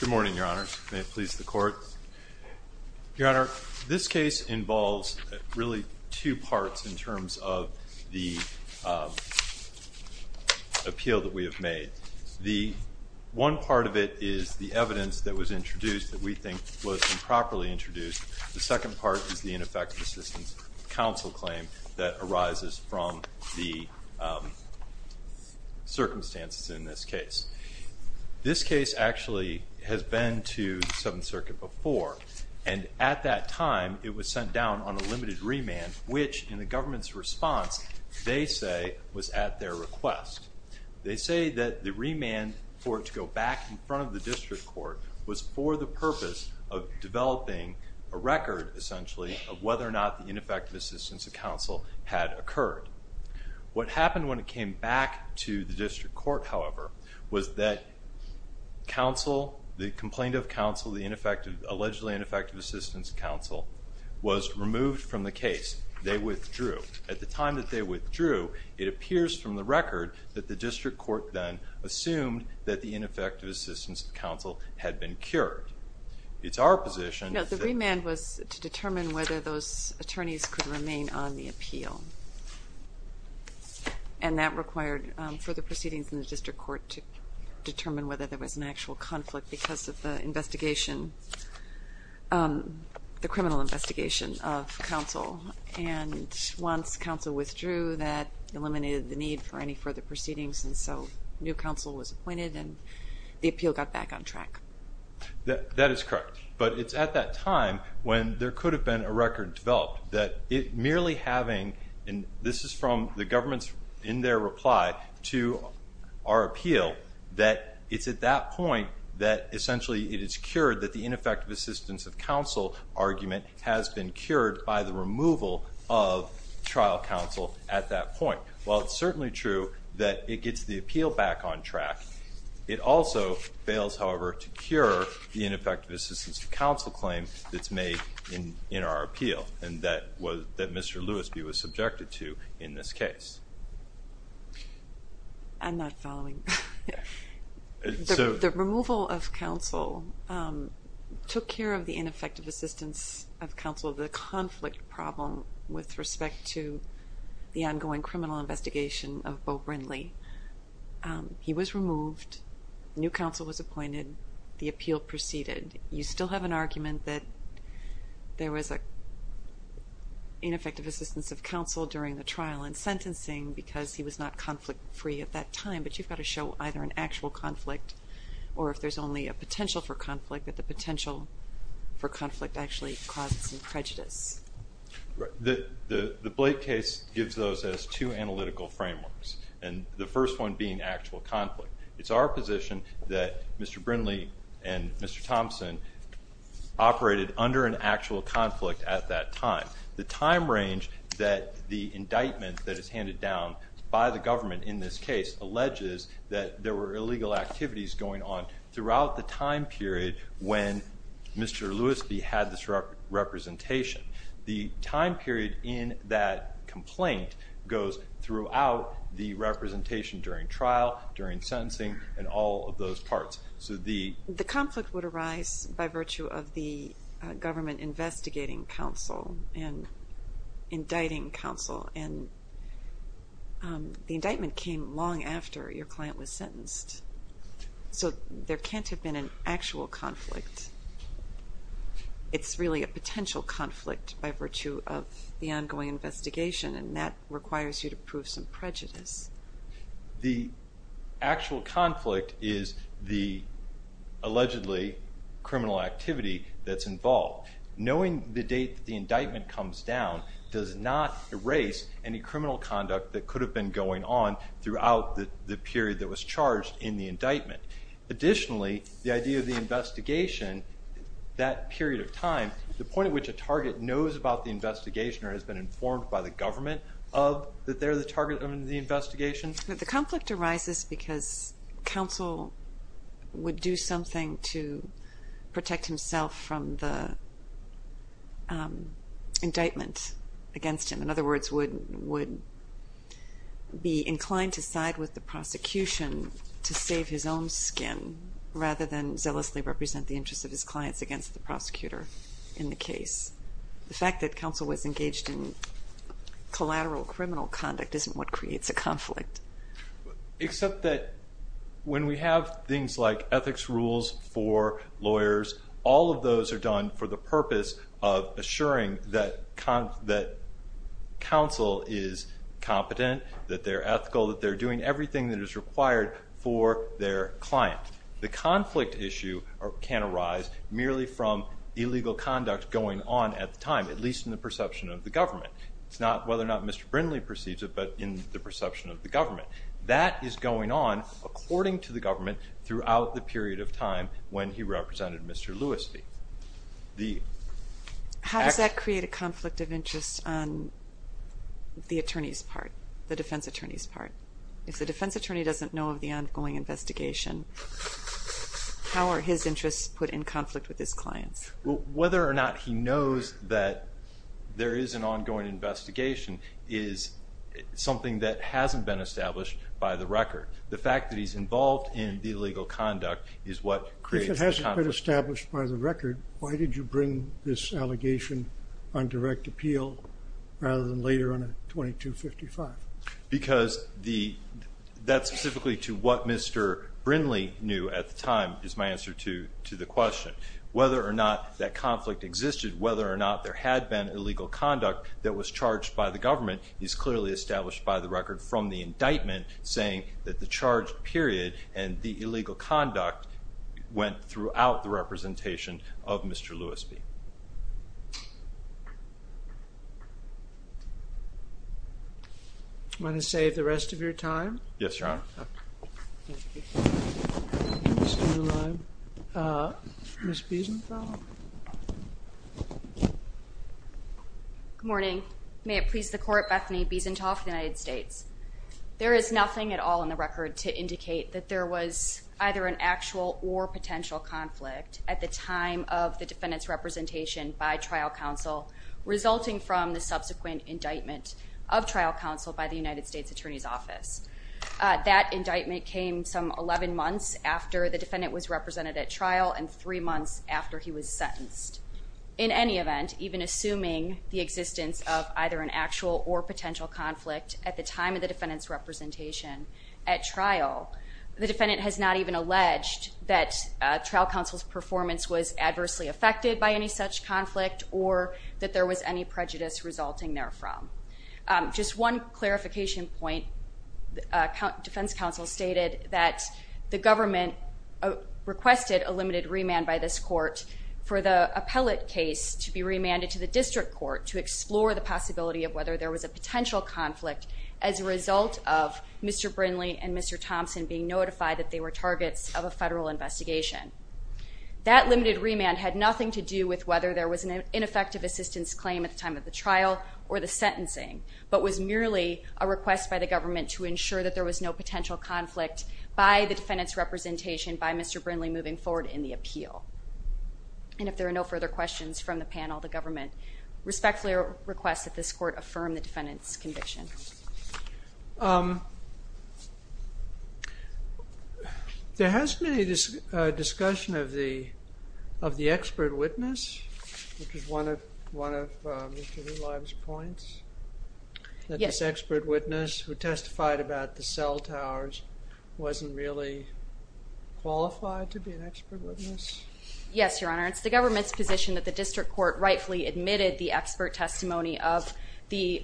Good morning, Your Honor, and may it please the Court. Your Honor, this case involves really two parts in terms of the appeal that we have made. The one part of it is the evidence that was introduced that we think was improperly introduced. The second part is the ineffective assistance counsel claim that arises from the circumstances in this case. This case actually has been to the Seventh Circuit before, and at that time it was sent down on a limited remand, which in the government's response, they say, was at their request. They say that the remand for it to go back in front of the district court was for the purpose of developing a record, essentially, of whether or not the ineffective assistance of counsel had occurred. What happened when it came back to the district court, however, was that counsel, the complaint of counsel, the ineffective, allegedly ineffective assistance of counsel, was removed from the case. They withdrew. At the time that they withdrew, it appears from the record that the district court then assumed that the ineffective assistance of counsel had been cured. It's our position that the remand was to determine whether those attorneys could remain on the appeal, and that required further proceedings in the district court to determine whether there was an actual conflict because of the investigation, the criminal investigation of counsel, and once counsel withdrew, that eliminated the need for any further proceedings, and so new counsel was appointed and the appeal got back on track. That is correct, but it's at that time when there could have been a record developed that it merely having, and this is from the government's in their reply to our appeal, that it's at that point that essentially it is cured that the ineffective assistance of counsel argument has been cured by the removal of trial counsel at that point. While it's certainly true that it gets the appeal back on track, it also fails, however, to cure the ineffective assistance of counsel claim that's made in our appeal, and that Mr. Lewisby was subjected to in this case. I'm not following. The removal of counsel took care of the ineffective assistance of counsel, the conflict problem with respect to the ongoing criminal investigation of Bo Brindley. He was removed, new counsel was appointed, the appeal proceeded. You still have an argument that there was a ineffective assistance of counsel during the trial and sentencing because he was not conflict free at that time, but you've got to show either an actual conflict or if there's only a potential for conflict that the potential for conflict actually causes some prejudice. The Blake case gives those as two analytical frameworks, and the first one being actual conflict. It's our position that Mr. Brindley and Mr. Thompson operated under an actual conflict at that time. The time range that the indictment that is handed down by the government in this case alleges that there were illegal activities going on throughout the time period when Mr. Lewisby had this representation. The time period in that complaint goes throughout the representation during trial, during sentencing, and all of those parts. So the the conflict would arise by virtue of the government investigating counsel and So there can't have been an actual conflict. It's really a potential conflict by virtue of the ongoing investigation, and that requires you to prove some prejudice. The actual conflict is the allegedly criminal activity that's involved. Knowing the date the indictment comes down does not erase any criminal conduct that could have been going on throughout the indictment. Additionally, the idea of the investigation, that period of time, the point at which a target knows about the investigation or has been informed by the government of that they're the target of the investigation. But the conflict arises because counsel would do something to protect himself from the indictment against him. In other words, would be inclined to side with the his own skin rather than zealously represent the interests of his clients against the prosecutor in the case. The fact that counsel was engaged in collateral criminal conduct isn't what creates a conflict. Except that when we have things like ethics rules for lawyers, all of those are done for the purpose of assuring that counsel is competent, that they're ethical, that is the thing that is required for their client. The conflict issue can arise merely from illegal conduct going on at the time, at least in the perception of the government. It's not whether or not Mr. Brindley perceives it, but in the perception of the government. That is going on according to the government throughout the period of time when he represented Mr. Lewis. How does that create a conflict of interest on the attorney's part, the defense attorney's defense attorney doesn't know of the ongoing investigation. How are his interests put in conflict with his clients? Whether or not he knows that there is an ongoing investigation is something that hasn't been established by the record. The fact that he's involved in the illegal conduct is what creates a conflict. If it hasn't been established by the record, why did you bring this That's specifically to what Mr. Brindley knew at the time is my answer to the question. Whether or not that conflict existed, whether or not there had been illegal conduct that was charged by the government, is clearly established by the record from the indictment saying that the charge period and the illegal conduct went throughout the representation of Mr. Lewis Bee. I'm going to save the rest of your time. Yes, your honor. Good morning. May it please the court, Bethany Biesenthal for the United States. There is nothing at all in the record to indicate that there was either an actual or resulting from the subsequent indictment of trial counsel by the United States Attorney's Office. That indictment came some 11 months after the defendant was represented at trial and three months after he was sentenced. In any event, even assuming the existence of either an actual or potential conflict at the time of the defendant's representation at trial, the defendant has not even alleged that trial counsel's performance was adversely affected by any such conflict or that there was any prejudice resulting there from. Just one clarification point, the defense counsel stated that the government requested a limited remand by this court for the appellate case to be remanded to the district court to explore the possibility of whether there was a potential conflict as a result of Mr. Brinley and Mr. Thompson being notified that they were targets of a federal investigation. That limited remand had nothing to do with whether there was an ineffective assistance claim at the time of the trial or the sentencing, but was merely a request by the government to ensure that there was no potential conflict by the defendant's representation by Mr. Brinley moving forward in the appeal. And if there are no further questions from the panel, the government respectfully requests that this court affirm the defendant's conviction. There has been a discussion of the of the expert witness, which is one of one of Mr. Hulive's points, that this expert witness who testified about the cell towers wasn't really qualified to be an expert witness. Yes, Your Honor, it's the government's position that the district court rightfully admitted the expert because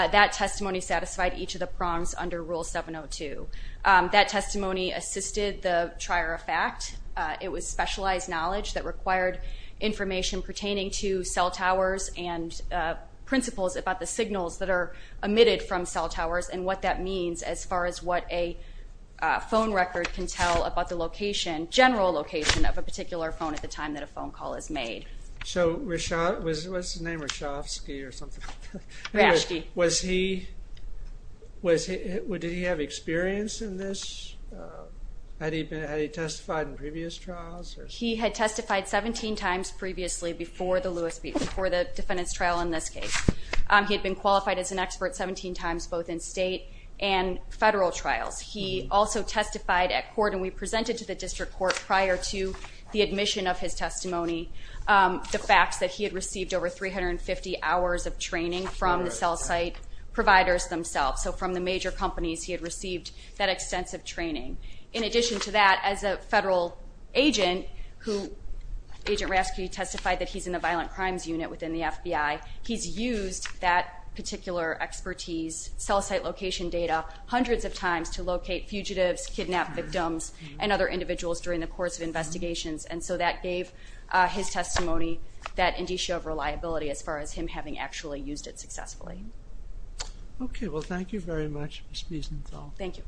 that testimony satisfied each of the prongs under Rule 702. That testimony assisted the trier of fact. It was specialized knowledge that required information pertaining to cell towers and principles about the signals that are emitted from cell towers and what that means as far as what a phone record can tell about the location, general location, of a particular phone at the Was he, did he have experience in this? Had he been, had he testified in previous trials? He had testified 17 times previously before the Lewis, before the defendant's trial in this case. He had been qualified as an expert 17 times both in state and federal trials. He also testified at court and we presented to the district court prior to the admission of his testimony the facts that he had received over 350 hours of training from the cell site providers themselves. So from the major companies he had received that extensive training. In addition to that, as a federal agent who, Agent Rasky testified that he's in the violent crimes unit within the FBI, he's used that particular expertise, cell site location data, hundreds of times to locate fugitives, kidnap victims, and other individuals during the course of investigations. And so that gave his testimony that did show reliability as far as him having actually used it successfully. Okay, well thank you very much Ms. Biesenthal. Thank you.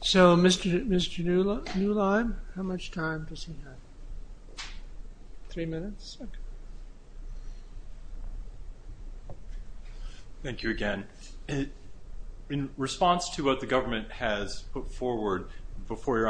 So Mr. Neulab, how much time does he have? Three minutes? Thank you again. In response to what the government has put forward before your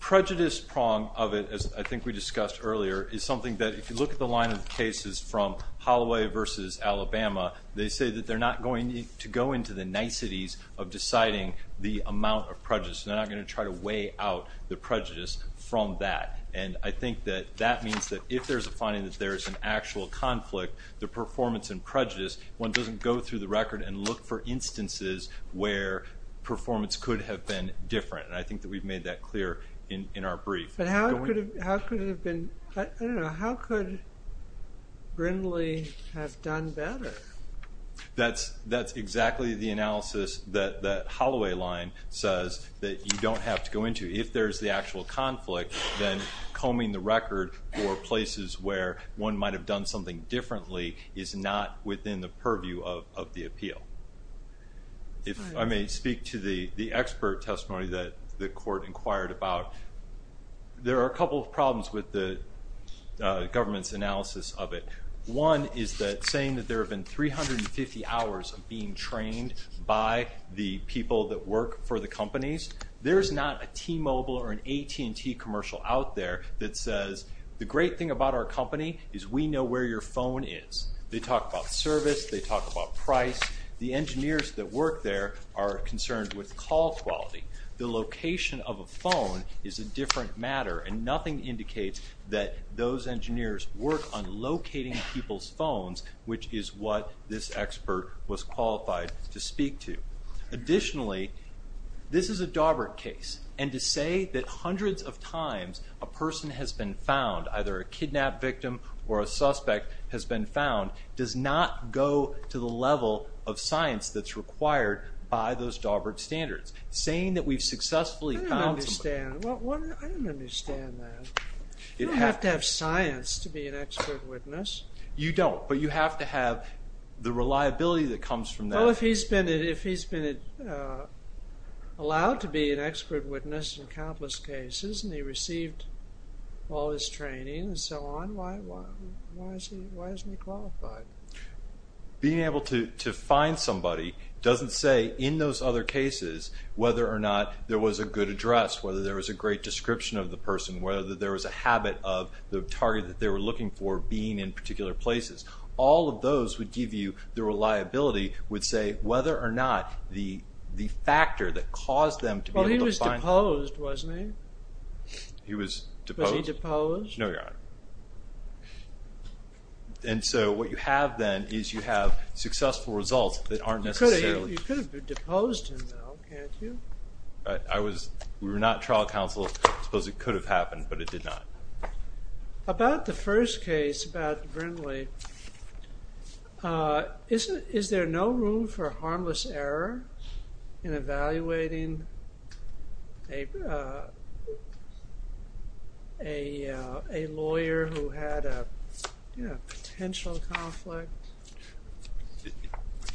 prejudice prong of it, as I think we discussed earlier, is something that if you look at the line of cases from Holloway versus Alabama, they say that they're not going to go into the niceties of deciding the amount of prejudice. They're not going to try to weigh out the prejudice from that. And I think that that means that if there's a finding that there is an actual conflict, the performance and prejudice, one doesn't go through the record and look for instances where performance could have been different. And I think that we've made that clear in our brief. But how could it have been, I don't know, how could Brindley have done better? That's exactly the analysis that that Holloway line says that you don't have to go into. If there's the actual conflict, then combing the record for places where one might have done something differently is not within the purview of the appeal. If I may speak to the expert testimony that the court inquired about, there are a couple of problems with the government's analysis of it. One is that saying that there have been 350 hours of being trained by the people that work for the companies. There's not a T-Mobile or an AT&T commercial out there that says the great thing about our company is we know where your phone is. They talk about service, they talk about price, the engineers that work there are concerned with call quality. The location of a phone is a different matter and nothing indicates that those engineers work on locating people's phones, which is what this expert was qualified to speak to. Additionally, this is a Daubert case and to say that hundreds of times a person has been found, either a kidnapped victim or a suspect has been found, does not go to the level of science that's required by those Daubert standards. Saying that we've successfully found... I don't understand that. You don't have to have science to be an expert witness. You don't, but you have to have the reliability that comes from that. Well, if he's been allowed to be an expert witness in countless cases and he received all his training and so on, why isn't he qualified? Being able to find somebody doesn't say in those other cases whether or not there was a good address, whether there was a great description of the person, whether there was a habit of the target that they were looking for being in particular places. All of those would give you the reliability would say whether or not the factor that caused them to be able to find... He was deposed, wasn't he? He was deposed? Was he deposed? No, Your Honor. And so what you have then is you have successful results that aren't necessarily... You could have deposed him, though, can't you? We were not trial counsel. I suppose it could have happened, but it did not. About the first case, about Brindley, is there no room for harmless error in a lawyer who had a potential conflict?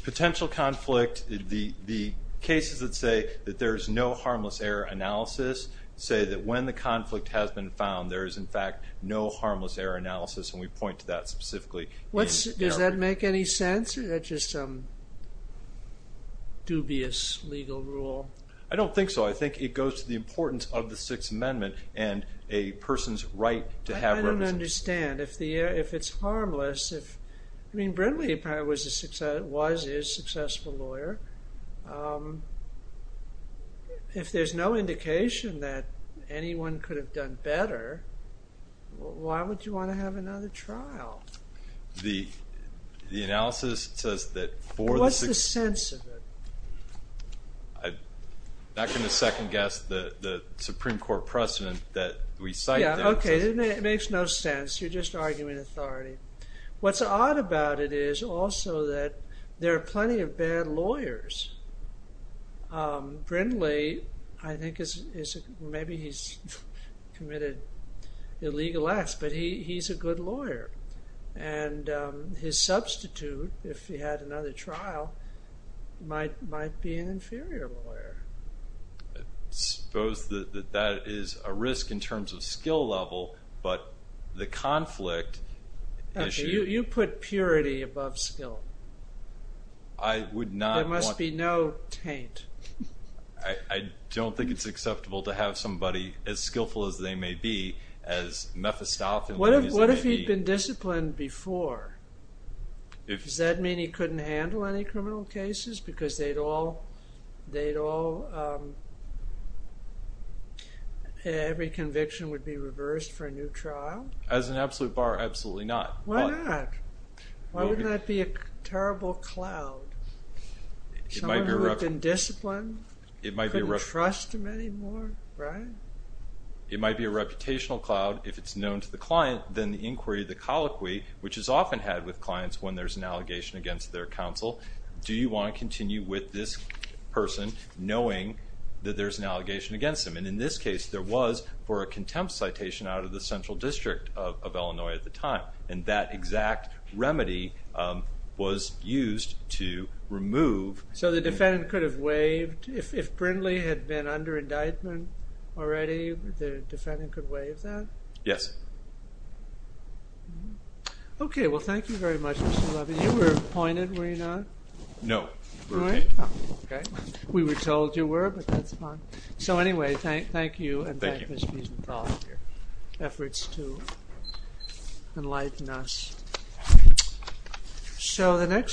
Potential conflict, the cases that say that there is no harmless error analysis say that when the conflict has been found there is in fact no harmless error analysis and we point to that specifically. Does that make any sense or is that just some dubious legal rule? I don't think so. I think it goes to the importance of the Sixth Amendment and a person's right to have... I don't understand. If it's harmless... I mean, Brindley was his successful lawyer. If there's no indication that anyone could have done better, why would you want to have another trial? The analysis says that for the... What's the sense of it? I'm not going to second-guess the Supreme Court precedent that we cite there. Okay, it makes no sense. You're just arguing authority. What's odd about it is also that there are plenty of bad lawyers. Brindley, I think, maybe he's committed illegal acts, but he's a good lawyer. And his substitute, if he had another trial, might be an inferior lawyer. I suppose that that is a risk in terms of skill level, but the conflict issue... Okay, you put purity above skill. I would not want... There must be no taint. I don't think it's acceptable to have somebody as skillful as they may be as Mephistoph and Louisa may be. What if he'd been disciplined before? Does that mean he couldn't handle any criminal cases because they'd all... every conviction would be reversed for a new trial? As an absolute bar, absolutely not. Why not? Why wouldn't that be a terrible cloud? Someone who had been disciplined, couldn't trust him anymore, right? It might be a reputational cloud if it's known to the client, then the inquiry, the colloquy, which is often had with clients when there's an allegation against their counsel, do you want to continue with this person knowing that there's an allegation against them? And in this case, there was for a contempt citation out of the Central District of Illinois at the time. So the defendant could have waived if Brindley had been under indictment already, the defendant could waive that? Yes. Okay, well, thank you very much, Mr. Levy. You were appointed, were you not? No. Oh, okay. We were told you were, but that's fine. So anyway, thank you and thank Ms. Mephistoph for your efforts to enlighten us. So the next...